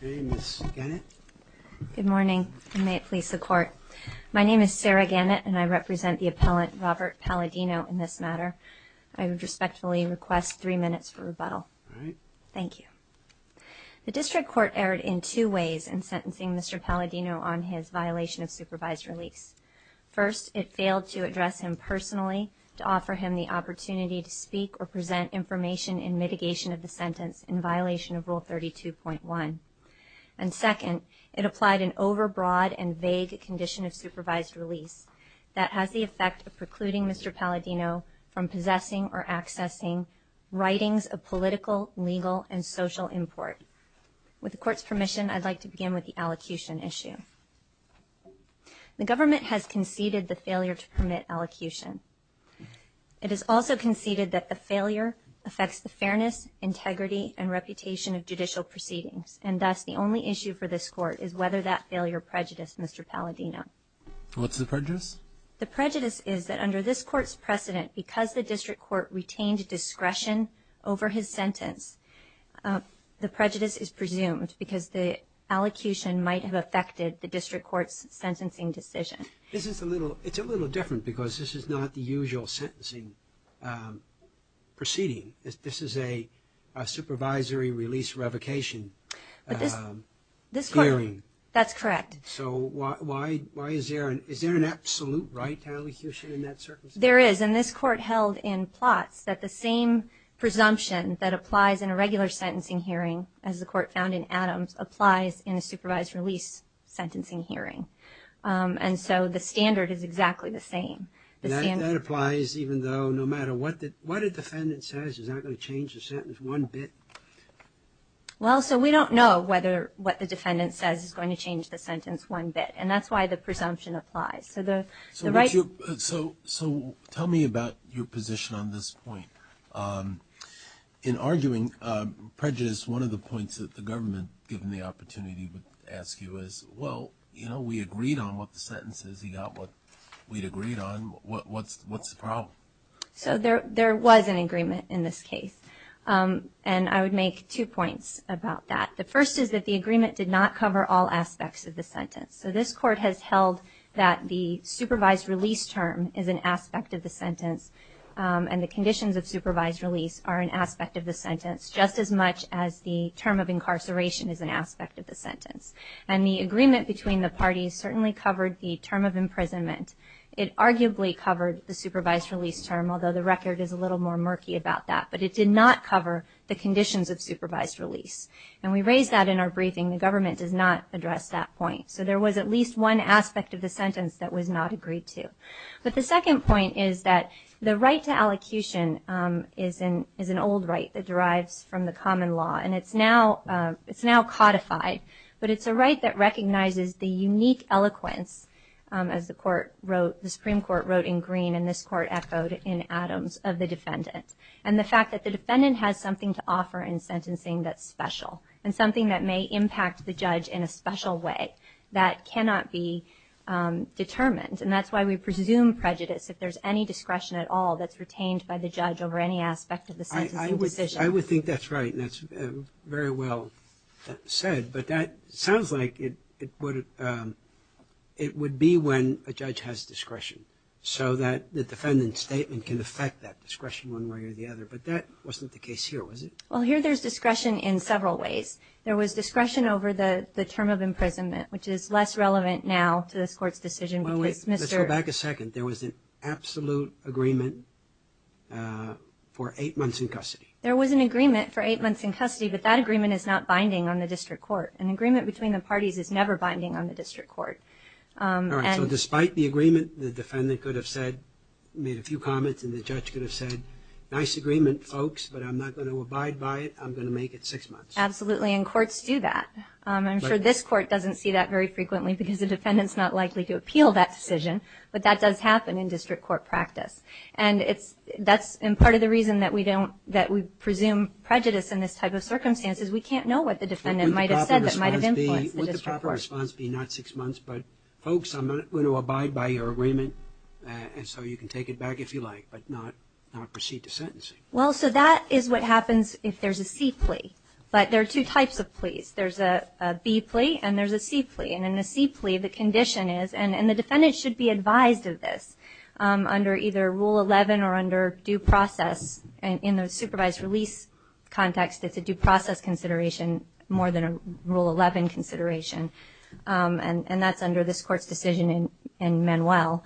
Good morning, and may it please the Court. My name is Sarah Gannett, and I represent the appellant Robert Paladino in this matter. I would respectfully request three minutes for rebuttal. Thank you. The District Court erred in two ways in sentencing Mr. Paladino on his violation of supervised release. First, it failed to address him personally to offer him the opportunity to speak or present information in mitigation of the sentence in violation of Rule 32.1. And second, it applied an overbroad and vague condition of supervised release that has the effect of precluding Mr. Paladino from possessing or accessing writings of political, legal, and social import. With the Court's permission, I'd like to begin with the allocution issue. The government has conceded the failure to permit allocution. It has also conceded that the failure affects the fairness, integrity, and reputation of judicial proceedings. And thus, the only issue for this Court is whether that failure prejudiced Mr. Paladino. What's the prejudice? The prejudice is that under this Court's precedent, because the District Court retained discretion over his sentence, the prejudice is presumed because the allocution might have affected the District Court's sentencing decision. This is a little different because this is not the usual sentencing proceeding. This is a supervisory release revocation hearing. That's correct. So is there an absolute right to allocution in that circumstance? There is, and this Court held in plots that the same presumption that applies in a regular sentencing hearing, as the Court found in Adams, applies in a supervised release sentencing hearing. And so the standard is exactly the same. That applies even though no matter what a defendant says is not going to change the sentence one bit? Well, so we don't know whether what the defendant says is going to change the sentence one bit, and that's why the presumption applies. So the right... So tell me about your position on this point. In arguing prejudice, one of the points that the government, given the opportunity, would ask you is, well, you know, we agreed on what the sentence is, he got what we'd agreed on, what's the problem? So there was an agreement in this case, and I would make two points about that. The first is that the agreement did not cover all aspects of the sentence. So this Court has held that the supervised release term is an aspect of the sentence, and the conditions of supervised release are an aspect of the sentence, just as much as the term of incarceration is an aspect of the sentence. And the agreement between the parties certainly covered the term of imprisonment. It arguably covered the supervised release term, although the record is a little more murky about that. But it did not cover the conditions of supervised release. And we raised that in our briefing. The government does not address that point. So there was at least one aspect of the sentence that was not agreed to. But the second point is that the right to allocution is an old right that derives from the common law. And it's now codified. But it's a right that recognizes the unique eloquence, as the Supreme Court wrote in Green, and this Court echoed in Adams, of the defendant. And the fact that the defendant has something to offer in sentencing that's special, and something that may impact the judge in a special way, that cannot be determined. And that's why we presume prejudice, if there's any discretion at all that's retained by the decision. I would think that's right. And that's very well said. But that sounds like it would be when a judge has discretion. So that the defendant's statement can affect that discretion one way or the other. But that wasn't the case here, was it? Well, here there's discretion in several ways. There was discretion over the term of imprisonment, which is less relevant now to this Court's decision because Mr. Let's go back a second. There was an absolute agreement for eight months in custody. There was an agreement for eight months in custody, but that agreement is not binding on the district court. An agreement between the parties is never binding on the district court. All right. So despite the agreement, the defendant could have said, made a few comments, and the judge could have said, nice agreement, folks, but I'm not going to abide by it. I'm going to make it six months. Absolutely. And courts do that. I'm sure this Court doesn't see that very frequently because the defendant's not likely to appeal that decision, but that does happen in district court practice. And that's part of the reason that we presume prejudice in this type of circumstances. We can't know what the defendant might have said that might have influenced the district court. Would the proper response be not six months, but folks, I'm not going to abide by your agreement, and so you can take it back if you like, but not proceed to sentencing. Well, so that is what happens if there's a C plea. But there are two types of pleas. There's a B plea, and there's a C plea. And in a C plea, the condition is, and the defendant should be advised of this under either Rule 11 or under due process. In the supervised release context, it's a due process consideration more than a Rule 11 consideration. And that's under this Court's decision in Manuel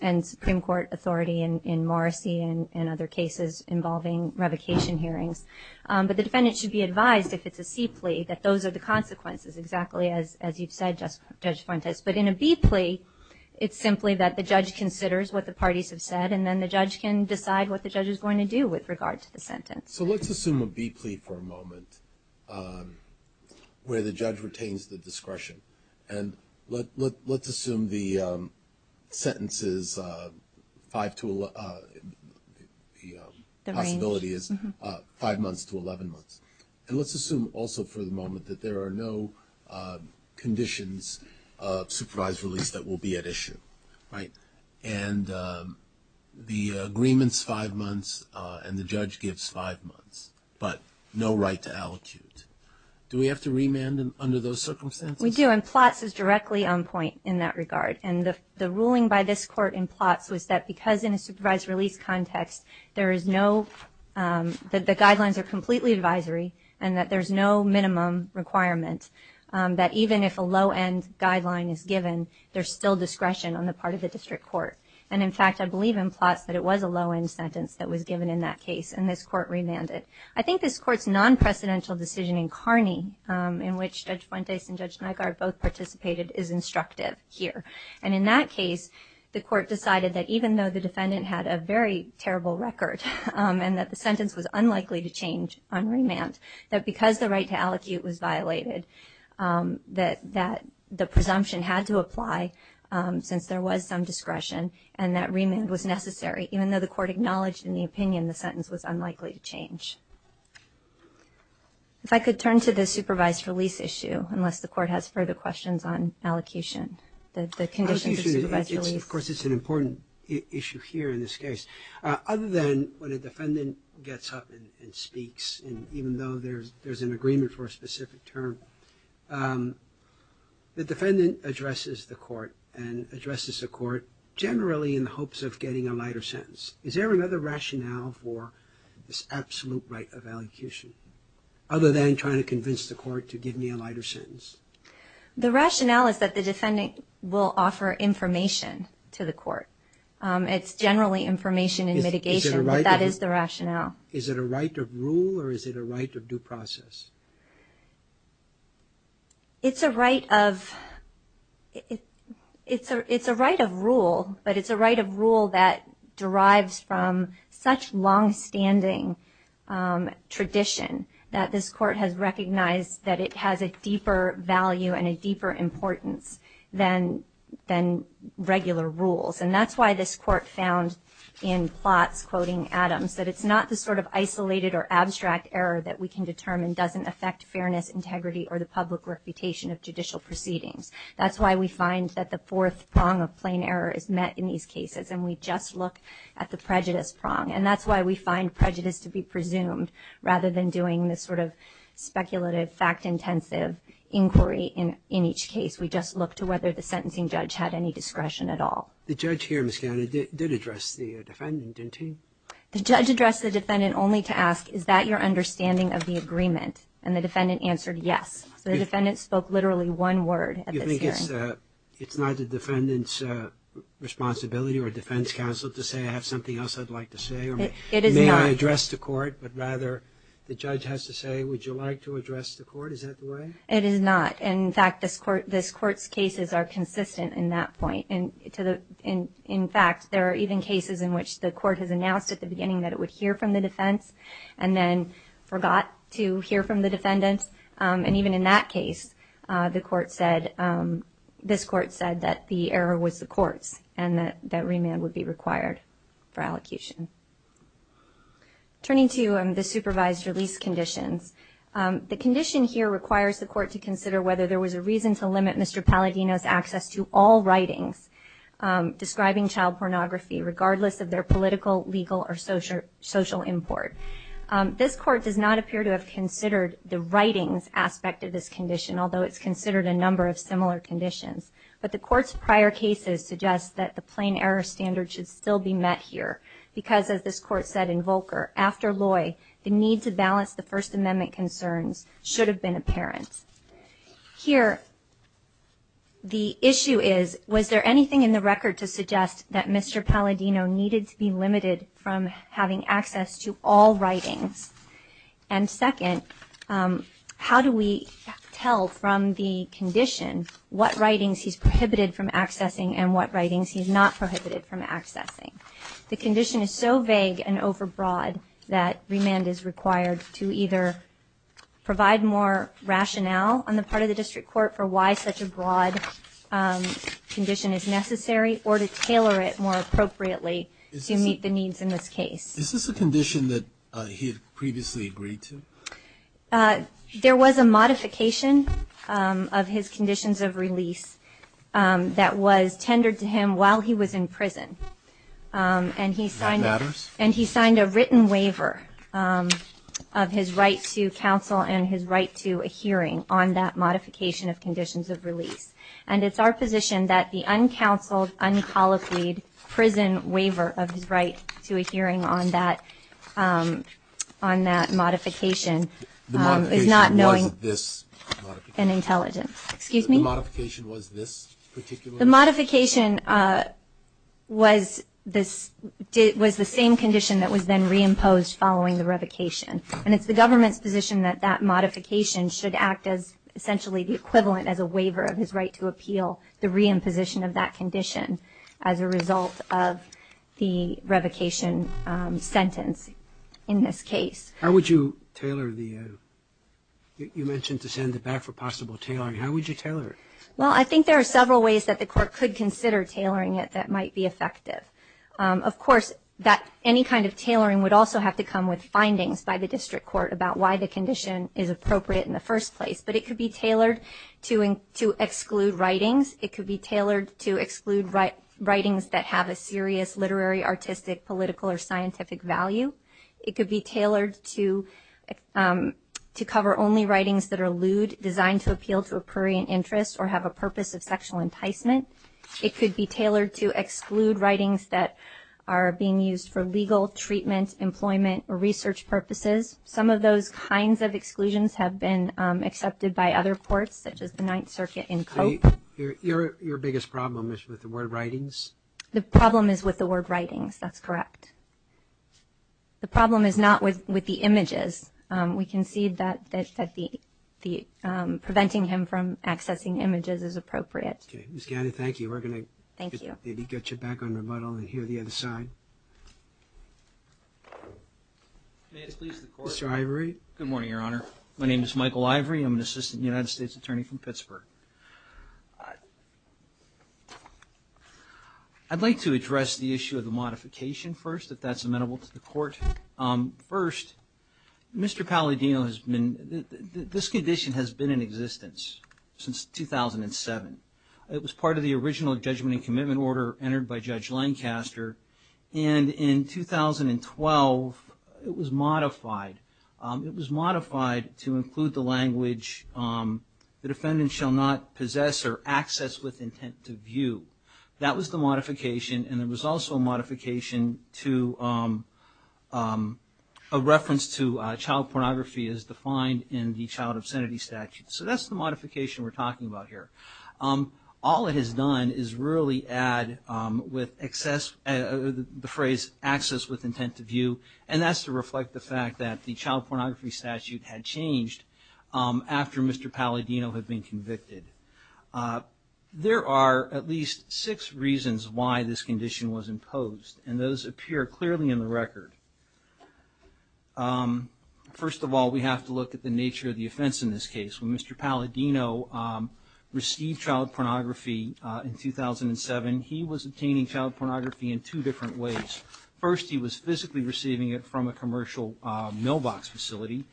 and Supreme Court authority in Morrissey and other cases involving revocation hearings. But the defendant should be advised if it's a C plea that those are the consequences, exactly as you've said, Judge Fuentes. But in a B plea, it's simply that the judge considers what the parties have said, and then the judge can decide what the judge is going to do with regard to the sentence. So let's assume a B plea for a moment where the judge retains the discretion. And let's assume the sentence is 5 to 11, the possibility is 5 months to 11 months. And let's assume also for the moment that there are no conditions of supervised release that will be at issue. And the agreement's 5 months, and the judge gives 5 months, but no right to allocute. Do we have to remand under those circumstances? We do, and Plotts is directly on point in that regard. And the ruling by this Court in Plotts was that because in a supervised release context, there is no, that the guidelines are completely advisory, and that there's no minimum requirement, that even if a low-end guideline is given, there's still discretion on the part of the district court. And in fact, I believe in Plotts that it was a low-end sentence that was given in that case, and this Court remanded. I think this Court's non-precedential decision in Kearney, in which Judge Fuentes and Judge Nygaard both participated, is instructive here. And in that case, the Court decided that even though the defendant had a very terrible record, and that the sentence was unlikely to change on remand, that because the right to allocate was violated, that the presumption had to apply since there was some discretion, and that remand was necessary even though the Court acknowledged in the opinion the sentence was unlikely to change. If I could turn to the supervised release issue, unless the Court has further questions on allocution, the conditions of supervised release. Of course, it's an important issue here in this case. Other than when a defendant gets up and speaks, and even though there's an agreement for a specific term, the defendant addresses the Court, and addresses the Court generally in the hopes of getting a lighter sentence. Is there another rationale for this absolute right of allocation, other than trying to convince the Court to give me a lighter sentence? The rationale is that the defendant will offer information to the Court. It's generally information and mitigation, but that is the rationale. Is it a right of rule, or is it a right of due process? It's a right of rule, but it's a right of rule that derives from such longstanding tradition that this Court has recognized that it has a deeper value and a deeper importance than regular rules. And that's why this Court found in plots quoting Adams that it's not the sort of isolated or abstract error that we can determine doesn't affect fairness, integrity, or the public reputation of judicial proceedings. That's why we find that the fourth prong of plain error is met in these cases, and we just look at the prejudice prong. And that's why we find prejudice to be presumed, rather than doing this sort of speculative, fact-intensive inquiry in each case. We just look to whether the sentencing judge had any discretion at all. The judge here, Ms. Gowdy, did address the defendant, didn't he? The judge addressed the defendant only to ask, is that your understanding of the agreement? And the defendant answered, yes. So the defendant spoke literally one word at this hearing. It's not the defendant's responsibility or defense counsel to say, I have something else I'd like to say, or may I address the court? But rather, the judge has to say, would you like to address the court? Is that the way? It is not. In fact, this Court's cases are consistent in that point. In fact, there are even cases in which the Court has announced at the beginning that it would hear from the defense, and then forgot to hear from the defendant. And even in that case, the Court said, this Court said that the error was the Court's, and that remand would be required for allocution. Turning to the supervised release conditions, the condition here requires the Court to consider whether there was a reason to limit Mr. Palladino's access to all writings describing child pornography regardless of their political, legal, or social import. This Court does not appear to have considered the writings aspect of this condition, although it's considered a number of similar conditions. But the Court's prior cases suggest that the plain error standard should still be met here, because as this Court said in Volcker, after Loy, the need to balance the First Amendment concerns should have been apparent. Here, the issue is, was there anything in the record to suggest that Mr. Palladino needed to be limited from having access to all writings? And second, how do we tell from the condition what writings he's prohibited from accessing and what writings he's not prohibited from accessing? The condition is so vague and overbroad that remand is required to either provide more rationale on the part of the District Court for why such a broad condition is necessary or to tailor it more appropriately to meet the needs in this case. Is this a condition that he had previously agreed to? There was a modification of his conditions of release that was tendered to him while he was in prison, and he signed a written waiver of his right to counsel and his right to a hearing on that modification of conditions of release. And it's our position that the uncounseled, uncolloquied prison waiver of his right to a hearing on that modification is not knowing an intelligence. The modification was this particular? The modification was the same condition that was then re-imposed following the revocation, and it's the government's position that that modification should act as essentially the equivalent as a waiver of his right to appeal the re-imposition of that condition as a result of the revocation sentence in this case. How would you tailor the, you mentioned to send it back for possible tailoring, how would you tailor it? Well, I think there are several ways that the court could consider tailoring it that might be effective. Of course, any kind of tailoring would also have to come with findings by the district court about why the condition is appropriate in the first place, but it could be tailored to exclude writings. It could be tailored to exclude writings that have a serious literary, artistic, political, or scientific value. It could be tailored to cover only writings that are lewd, designed to appeal to a prurient interest, or have a purpose of sexual enticement. It could be tailored to exclude writings that are being used for legal treatment, employment, or research purposes. Some of those kinds of exclusions have been accepted by other courts, such as the Ninth Circuit and COAP. Your biggest problem is with the word writings? The problem is with the word writings, that's correct. The problem is not with the images. We concede that preventing him from accessing images is appropriate. Okay, Ms. Gaddy, thank you. We're going to get you back on rebuttal and hear the other side. Mr. Ivory? Good morning, Your Honor. My name is Michael Ivory. I'm an Assistant United States Attorney from Pittsburgh. I'd like to address the issue of the modification first, if that's amenable to the Court. First, Mr. Palladino has been, this condition has been in existence since 2007. It was part of the original judgment and commitment order entered by Judge Lancaster, and in 2012, it was modified. It was modified to include the language that a federal judge defendant shall not possess or access with intent to view. That was the modification, and there was also a modification to a reference to child pornography as defined in the child obscenity statute. So that's the modification we're talking about here. All it has done is really add with excess, the phrase access with intent to view, and that's to reflect the fact that the child pornography statute had changed after Mr. Palladino had been convicted. There are at least six reasons why this condition was imposed, and those appear clearly in the record. First of all, we have to look at the nature of the offense in this case. When Mr. Palladino received child pornography in 2007, he was obtaining child pornography in two different ways. First, he was physically receiving it from a commercial mailbox facility,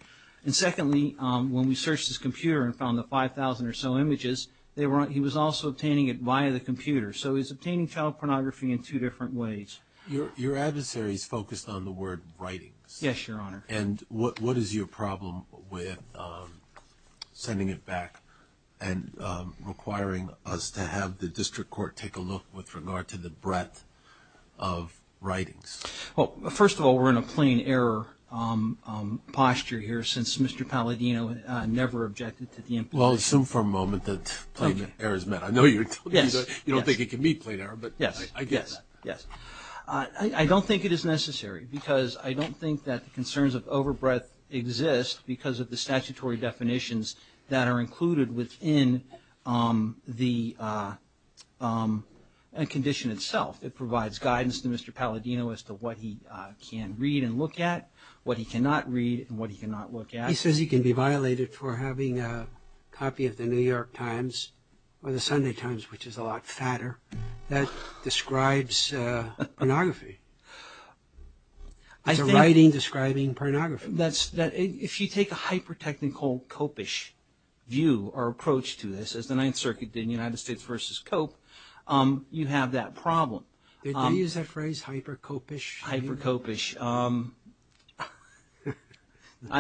and secondly, when we searched his computer and found the 5,000 or so images, he was also obtaining it via the computer. So he was obtaining child pornography in two different ways. Your adversary is focused on the word writings. Yes, Your Honor. And what is your problem with sending it back and requiring us to have the district court take a look with regard to the breadth of writings? Well, first of all, we're in a plain error posture here since Mr. Palladino never objected to the implementation. Well, I'll assume for a moment that plain error is met. I know you're telling me that you don't think it can be plain error, but I get that. Yes. I don't think it is necessary because I don't think that the concerns of overbreadth exist because of the statutory definitions that are included within the conditions itself. It provides guidance to Mr. Palladino as to what he can read and look at, what he cannot read, and what he cannot look at. He says he can be violated for having a copy of the New York Times or the Sunday Times, which is a lot fatter, that describes pornography. It's a writing describing pornography. If you take a hyper-technical copish view or approach to this, as the Ninth Circuit did in United States v. Cope, you have that problem. Did they use that phrase, hyper-Cope-ish? Hyper-Cope-ish. I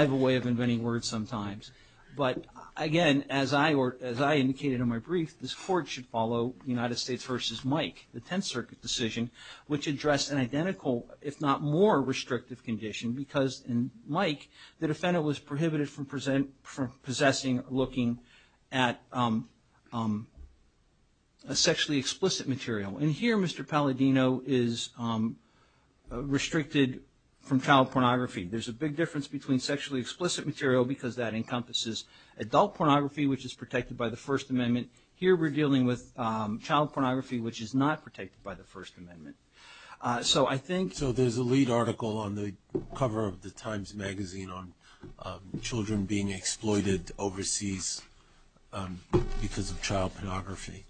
have a way of inventing words sometimes. But again, as I indicated in my brief, this Court should follow United States v. Mike, the Tenth Circuit decision, which addressed an identical, if not more restrictive condition because in Mike, the defendant was prohibited from possessing or looking at a sexually explicit material. And here, Mr. Palladino is restricted from child pornography. There's a big difference between sexually explicit material because that encompasses adult pornography, which is protected by the First Amendment. Here, we're dealing with child pornography, which is not protected by the First Amendment. So I think... What about the cover of the Times Magazine on children being exploited overseas because of child pornography?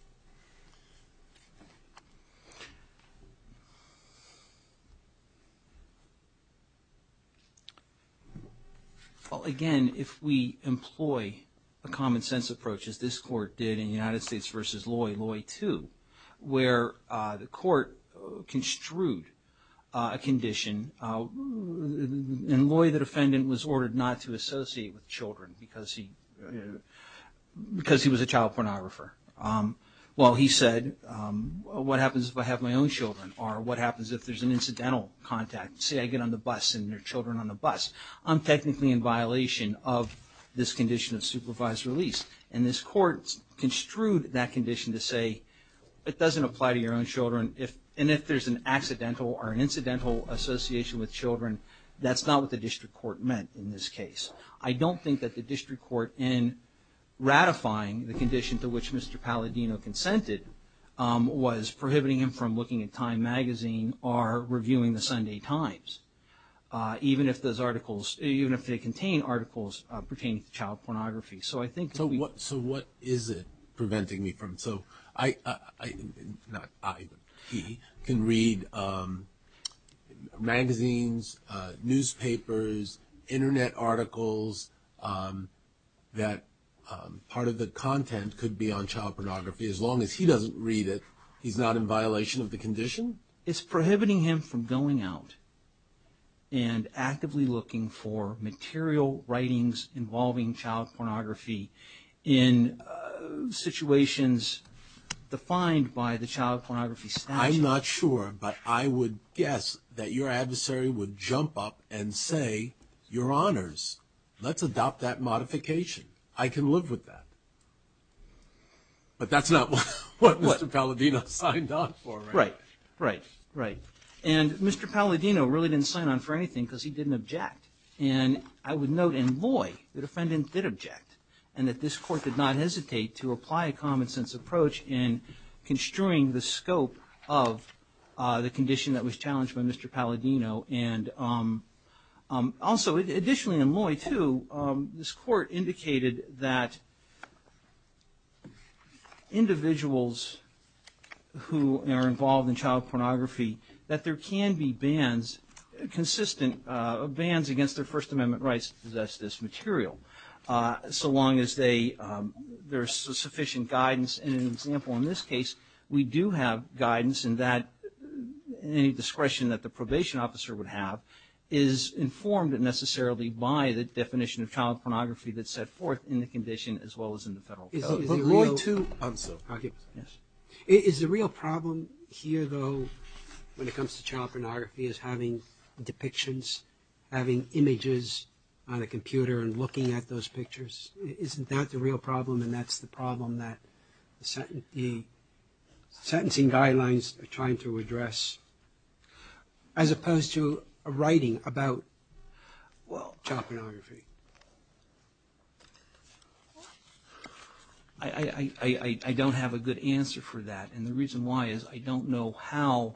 Well, again, if we employ a common-sense approach, as this Court did in United States v. Loy, Loy 2, where the Court construed a condition, and Loy, the defendant, was ordered not to associate with children because he was a child pornographer. Well, he said, what happens if I have my own children? Or what happens if there's an incidental contact? Say I get on the bus and there are children on the bus. I'm technically in violation of this condition of supervised release. And this Court construed that condition to say, it doesn't apply to your own children. And if there's an accidental or an incidental association with children, that's not what the District Court meant in this case. I don't think that the District Court, in ratifying the condition to which Mr. Palladino consented, was prohibiting him from looking at Time Magazine or reviewing the Sunday Times, even if those articles... So what is it preventing me from? So I, not I, but he, can read magazines, newspapers, Internet articles, that part of the content could be on child pornography, as long as he doesn't read it, he's not in violation of the condition? It's prohibiting him from going out and actively looking for material writings involving child pornography in situations defined by the child pornography statute. I'm not sure, but I would guess that your adversary would jump up and say, your honors, let's adopt that modification. I can live with that. But that's not what Mr. Palladino signed on for, right? Right, right, right. And Mr. Palladino really didn't sign on for anything because he didn't object. And I would note in Loy that a defendant did object, and that this Court did not hesitate to apply a common-sense approach in construing the scope of the condition that was challenged by Mr. Palladino. And also, additionally in who are involved in child pornography, that there can be bans, consistent bans against their First Amendment rights to possess this material, so long as they, there's sufficient guidance, and an example in this case, we do have guidance in that any discretion that the probation officer would have is informed necessarily by the definition of child pornography that's set forth in the condition as well as in the Federal Code. But Loy, too, is the real problem here, though, when it comes to child pornography, is having depictions, having images on a computer and looking at those pictures? Isn't that the real problem, and that's the problem that the sentencing guidelines are trying to address, as opposed to a writing about, well, child pornography? I don't have a good answer for that, and the reason why is I don't know how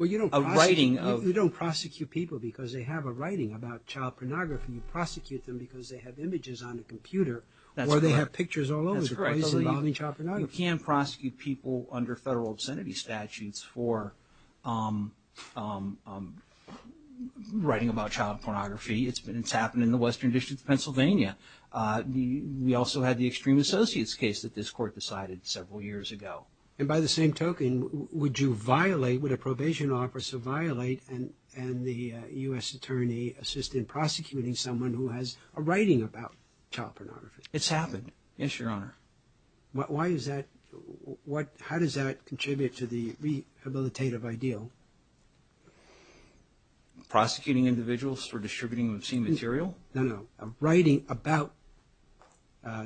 a writing of... Well, you don't prosecute people because they have a writing about child pornography. You prosecute them because they have images on a computer, or they have pictures all over the place involving child pornography. That's correct. You can prosecute people under Federal obscenity statutes for writing about child pornography. It's happened in the Western District of Pennsylvania. We also had the Extreme Associates case that this Court decided several years ago. And by the same token, would you violate, would a probation officer violate and the U.S. attorney assist in prosecuting someone who has a writing about child pornography? It's happened, yes, Your Honor. Why is that? How does that contribute to the rehabilitative ideal? Prosecuting individuals for distributing obscene material? No, no. A writing about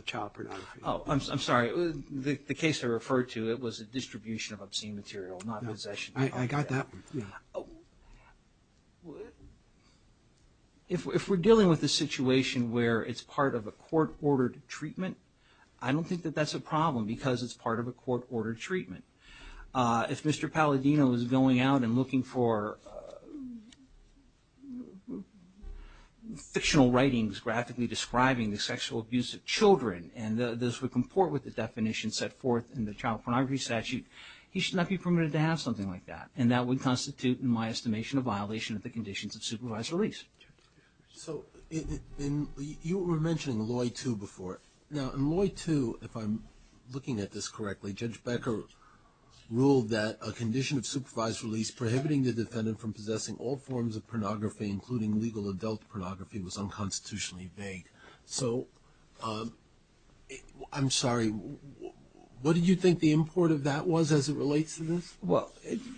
child pornography. Oh, I'm sorry. The case I referred to, it was a distribution of obscene material, not possession. I got that. If we're dealing with a situation where it's part of a court-ordered treatment, I don't think that that's a problem because it's part of a court-ordered treatment. If Mr. Becker's original writing is graphically describing the sexual abuse of children and this would comport with the definition set forth in the child pornography statute, he should not be permitted to have something like that. And that would constitute, in my estimation, a violation of the conditions of supervised release. So you were mentioning Loy 2 before. Now, in Loy 2, if I'm looking at this correctly, Judge Becker ruled that a condition of supervised release prohibiting the defendant from possessing all forms of pornography, including legal adult pornography, was unconstitutionally vague. So, I'm sorry, what did you think the import of that was as it relates to this? Well,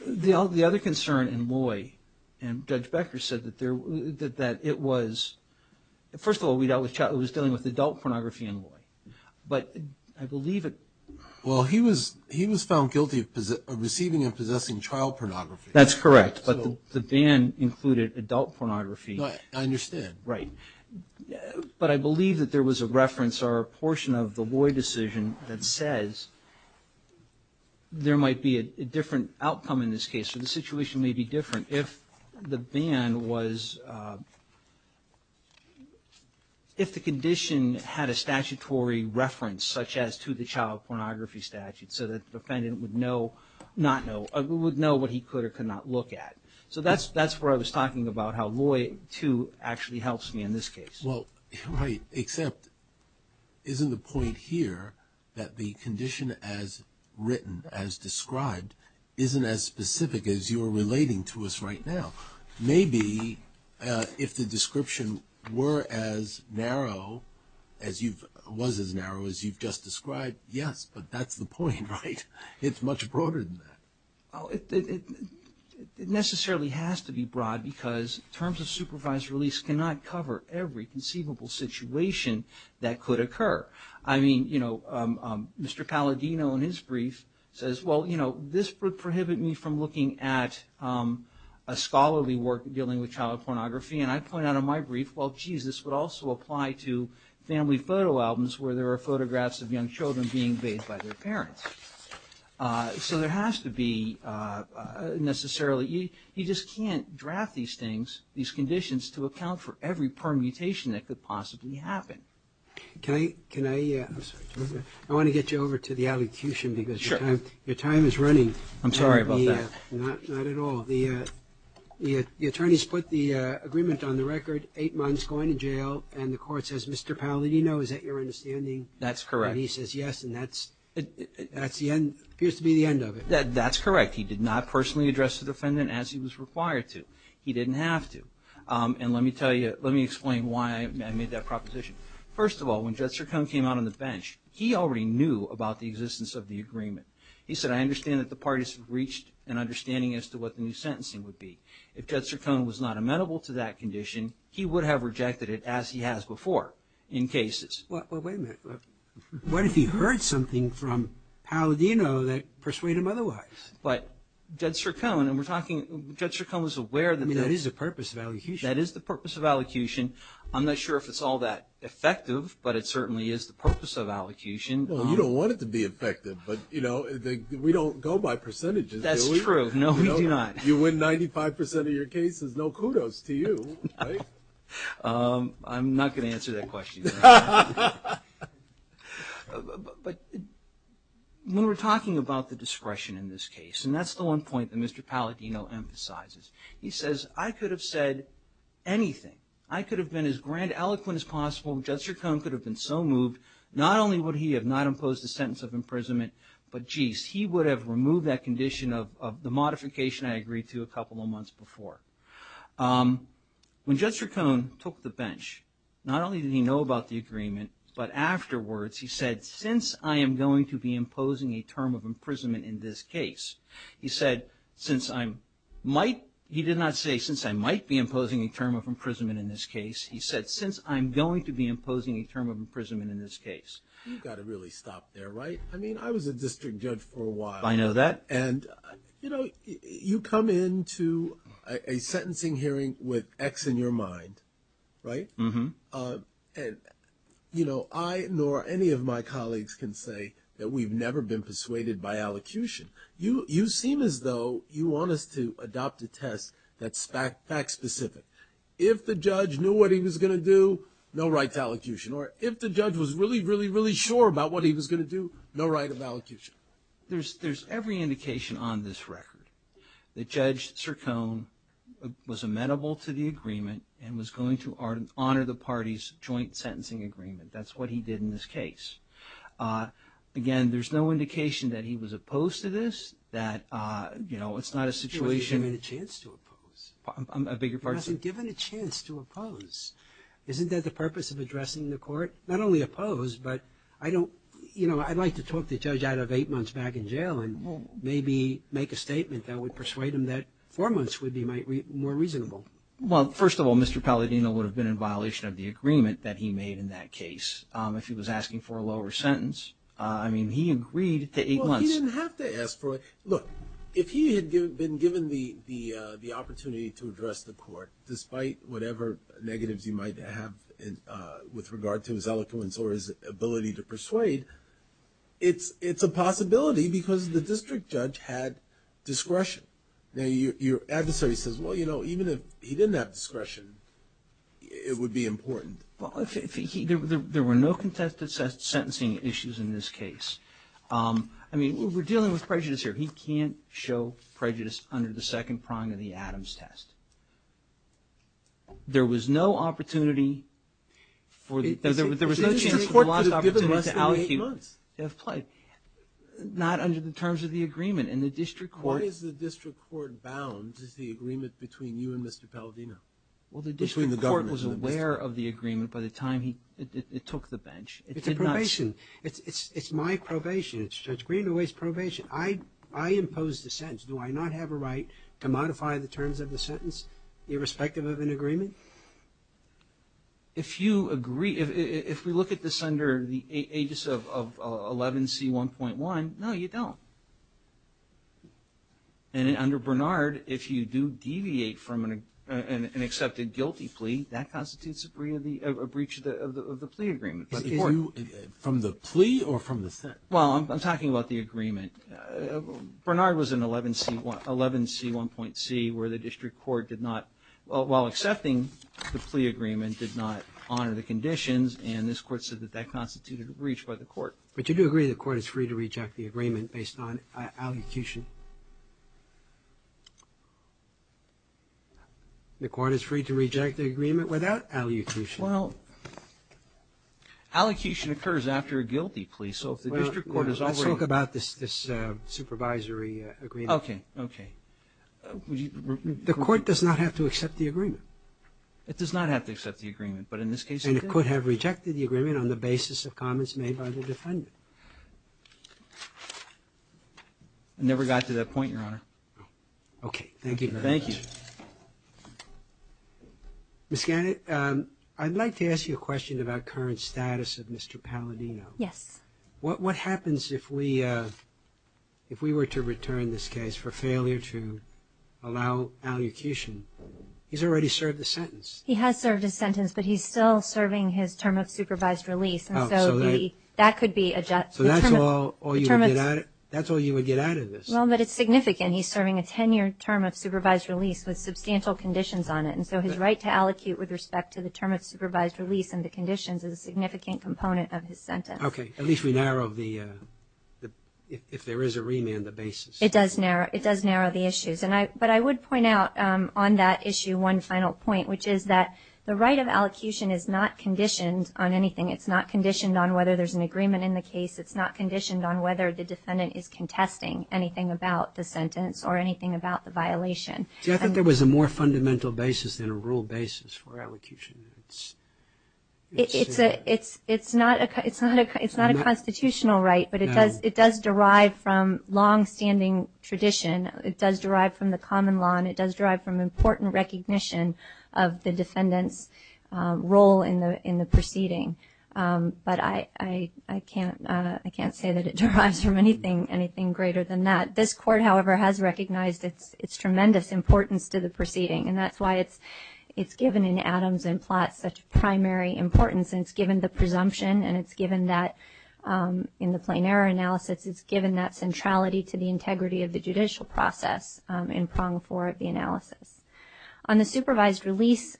the other concern in Loy, and Judge Becker said that it was, first of all, it was dealing with adult pornography in Loy. But I believe it... Well, he was found guilty of receiving and possessing child pornography. That's correct. But the ban included adult pornography. I understand. Right. But I believe that there was a reference or a portion of the Loy decision that says there might be a different outcome in this case, or the situation may be different if the ban was, if the condition had a statutory reference, such as to the child pornography statute, so that the defendant would know, not know, would know what he could or could not look at. So that's where I was talking about how Loy 2 actually helps me in this case. Well, right, except isn't the point here that the condition as written, as described, isn't as specific as you're relating to us right now? Maybe if the description were as narrow as you've, was as narrow as you've just described, yes, but that's the point, right? It's much broader than that. Well, it necessarily has to be broad because terms of supervised release cannot cover every conceivable situation that could occur. I mean, you know, Mr. Palladino in his brief says, well, you know, this would prohibit me from looking at a scholarly work dealing with child pornography, and I point out in my brief, well, geez, this would also apply to family photo albums where there are photographs of young children being bathed by their parents. So there has to be necessarily, you just can't draft these things, these conditions, to account for every permutation that could possibly happen. Can I, can I, I'm sorry, I want to get you over to the allocution because your time is running. I'm sorry about that. Not at all. The attorneys put the agreement on the record, eight months going to jail, and the court says, Mr. Palladino, is that your understanding? That's correct. And he says yes, and that's, that's the end, appears to be the end of it. That's correct. He did not personally address the defendant as he was required to. He didn't have to. And let me tell you, let me explain why I made that proposition. First of all, when Judge Sircone came out on the bench, he already knew about the existence of the as to what the new sentencing would be. If Judge Sircone was not amenable to that condition, he would have rejected it as he has before, in cases. Well, wait a minute. What if he heard something from Palladino that persuaded him otherwise? But Judge Sircone, and we're talking, Judge Sircone was aware that that's I mean, that is the purpose of allocution. That is the purpose of allocution. I'm not sure if it's all that effective, but it certainly is the purpose of allocution. Well, you don't want it to be effective, but, you know, we don't go by percentages, do we? That's true. No, we do not. You win 95% of your cases. No kudos to you, right? I'm not going to answer that question. But when we're talking about the discretion in this case, and that's the one point that Mr. Palladino emphasizes, he says, I could have said anything. I could have been as grand eloquent as possible. Judge Sircone could have been so moved. Not only would he have not imposed the sentence of imprisonment, but geez, he would have removed that condition of the modification I agreed to a couple of months before. When Judge Sircone took the bench, not only did he know about the agreement, but afterwards he said, since I am going to be imposing a term of imprisonment in this case, he said, since I might, he did not say, since I might be imposing a term of imprisonment in this case. He said, since I'm going to be imposing a term of imprisonment in this case. You've got to really stop there, right? I mean, I was a district judge for a while. I know that. And you come into a sentencing hearing with X in your mind, right? And I nor any of my colleagues can say that we've never been persuaded by allocution. You seem as though you want us to adopt a test that's fact specific. If the judge knew what he was going to do, no right of allocution. There's every indication on this record that Judge Sircone was amenable to the agreement and was going to honor the party's joint sentencing agreement. That's what he did in this case. Again, there's no indication that he was opposed to this, that, you know, it's not a situation He wasn't given a chance to oppose. I'm a bigger person. He wasn't given a chance to oppose. Isn't that the purpose of addressing the court? Not only opposed, but I don't, you know, I'd like to talk the judge out of eight months back in jail and maybe make a statement that would persuade him that four months would be more reasonable. Well, first of all, Mr. Palladino would have been in violation of the agreement that he made in that case if he was asking for a lower sentence. I mean, he agreed to eight months. Well, he didn't have to ask for it. Look, if he had been given the opportunity to address the court, despite whatever negatives you might have with regard to his eloquence or his ability to persuade, it's a possibility because the district judge had discretion. Now, your adversary says, well, you know, even if he didn't have discretion, it would be important. Well, if he, there were no contested sentencing issues in this case. I mean, we're dealing with prejudice here. He can't show prejudice under the second prong of the Adams test. There was no opportunity for, there was no chance for the last opportunity to allecute to have played, not under the terms of the agreement. And the district court What is the district court bound is the agreement between you and Mr. Palladino, between the government and the district. Well, the district court was aware of the agreement by the time it took the bench. It's a probation. It's my probation. It's Judge Greenaway's probation. I impose the sentence. Do I not have a right to modify the terms of the sentence irrespective of an agreement? If you agree, if we look at this under the aegis of 11C1.1, no, you don't. And under Bernard, if you do deviate from an accepted guilty plea, that constitutes a breach of the plea agreement. Is it from the plea or from the sentence? Well, I'm talking about the agreement. Bernard was in 11C1.C where the district court did not, while accepting the plea agreement, did not honor the conditions. And this court said that that constituted a breach by the court. But you do agree the court is free to reject the agreement based on allocution? The court is free to reject the agreement without allocution? Well, allocation occurs after a guilty plea. So if the district court is already... Let's talk about this supervisory agreement. Okay. Okay. The court does not have to accept the agreement. It does not have to accept the agreement, but in this case it did. And it could have rejected the agreement on the basis of comments made by the defendant. Never got to that point, Your Honor. Okay. Thank you. Thank you. Ms. Gannett, I'd like to ask you a question about current status of Mr. Palladino. Yes. What happens if we were to return this case for failure to allow allocution? He's already served a sentence. He has served a sentence, but he's still serving his term of supervised release. And so that could be a... So that's all you would get out of this? Well, but it's significant. He's serving a 10-year term of supervised release with substantial conditions on it. And so his right to allocute with respect to the term of supervised release and the conditions is a significant component of his sentence. Okay. At least we narrowed the... If there is a remand, the basis. It does narrow the issues. But I would point out on that issue one final point, which is that the right of allocution is not conditioned on anything. It's not conditioned on whether there's an agreement in the case. It's not conditioned on whether the defendant is contesting anything about the sentence or anything about the violation. See, I thought there was a more fundamental basis than a rule basis for allocution. It's... It's not a constitutional right, but it does derive from longstanding tradition. It does derive from the common law, and it does derive from important recognition of the defendant's role in the proceeding. But I can't say that it derives from anything greater than that. This court, however, has recognized its tremendous importance to the proceeding, and that's why it's given in Adams and Platt such primary importance. And it's given the presumption, and it's given that in the plain error analysis, it's given that centrality to the integrity of the judicial process in prong four of the analysis. On the supervised release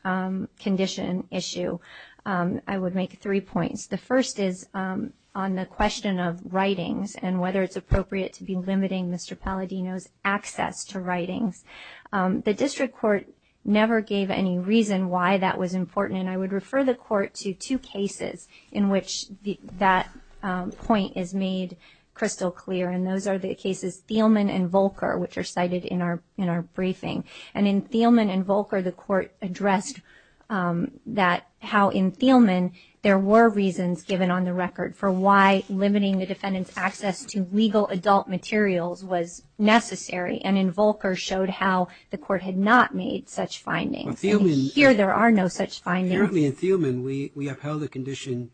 condition issue, I would make three points. The first is on the question of writings and whether it's appropriate to be limiting Mr. Palladino's access to writings. The district court never gave any reason why that was important, and I would refer the court to two cases in which that point is made crystal clear, and those are the cases Thielman and Volker, which are cited in our briefing. And in Thielman and Volker, the court addressed that how in Thielman there were reasons given on the record for why limiting the defendant's access to legal adult materials was necessary, and in Volker showed how the court had not made such findings. And here there are no such findings. Apparently in Thielman, we upheld a condition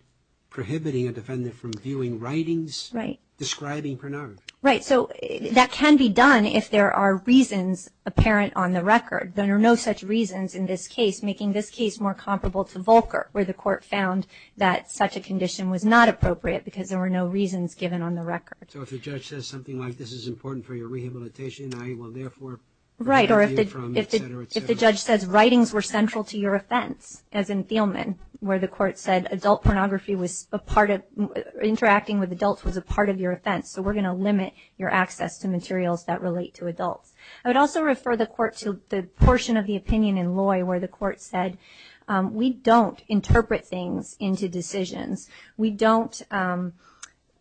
prohibiting a defendant from viewing writings describing pornography. Right. So that can be done if there are reasons apparent on the record. There are no such reasons in this case, making this case more comparable to Volker, where the court found that such a condition was not appropriate because there were no reasons given on the record. So if the judge says something like, this is important for your rehabilitation, I will therefore prohibit you from, et cetera, et cetera. Right. Or if the judge says, writings were central to your offense, as in Thielman, where the court said adult pornography was a part of, interacting with adults was a part of your offense, so we're going to limit your access to materials that relate to adults. I would also refer the court to the portion of the opinion in Loy where the court said, we don't interpret things into decisions. We don't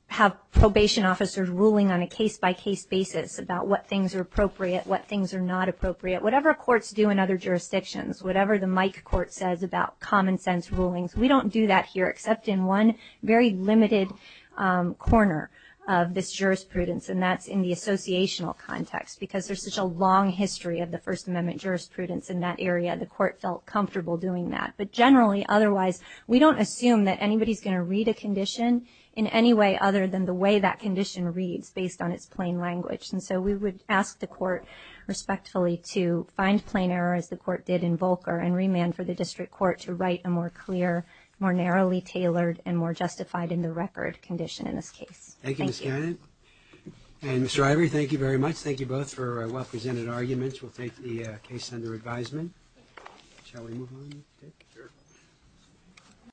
have probation officers ruling on a case-by-case basis about what things are appropriate, what things are not appropriate. Whatever courts do in other jurisdictions, whatever the Mike Court says about common sense rulings, we don't do that here except in one very limited corner of this jurisprudence, and that's in the associational context because there's such a long history of the First Amendment jurisprudence in that area, the court felt comfortable doing that. But generally, otherwise, we don't assume that anybody's going to read a condition in any way other than the way that condition reads, based on its plain language. And so we would ask the court, respectfully, to find plain error, as the court did in Volcker, and remand for the district court to write a more clear, more narrowly tailored, and more justified in the record condition in this case. Thank you, Ms. Cannon. And Mr. Ivory, thank you very much. Thank you both for well-presented arguments. We'll take the case under advisement. Shall we move on?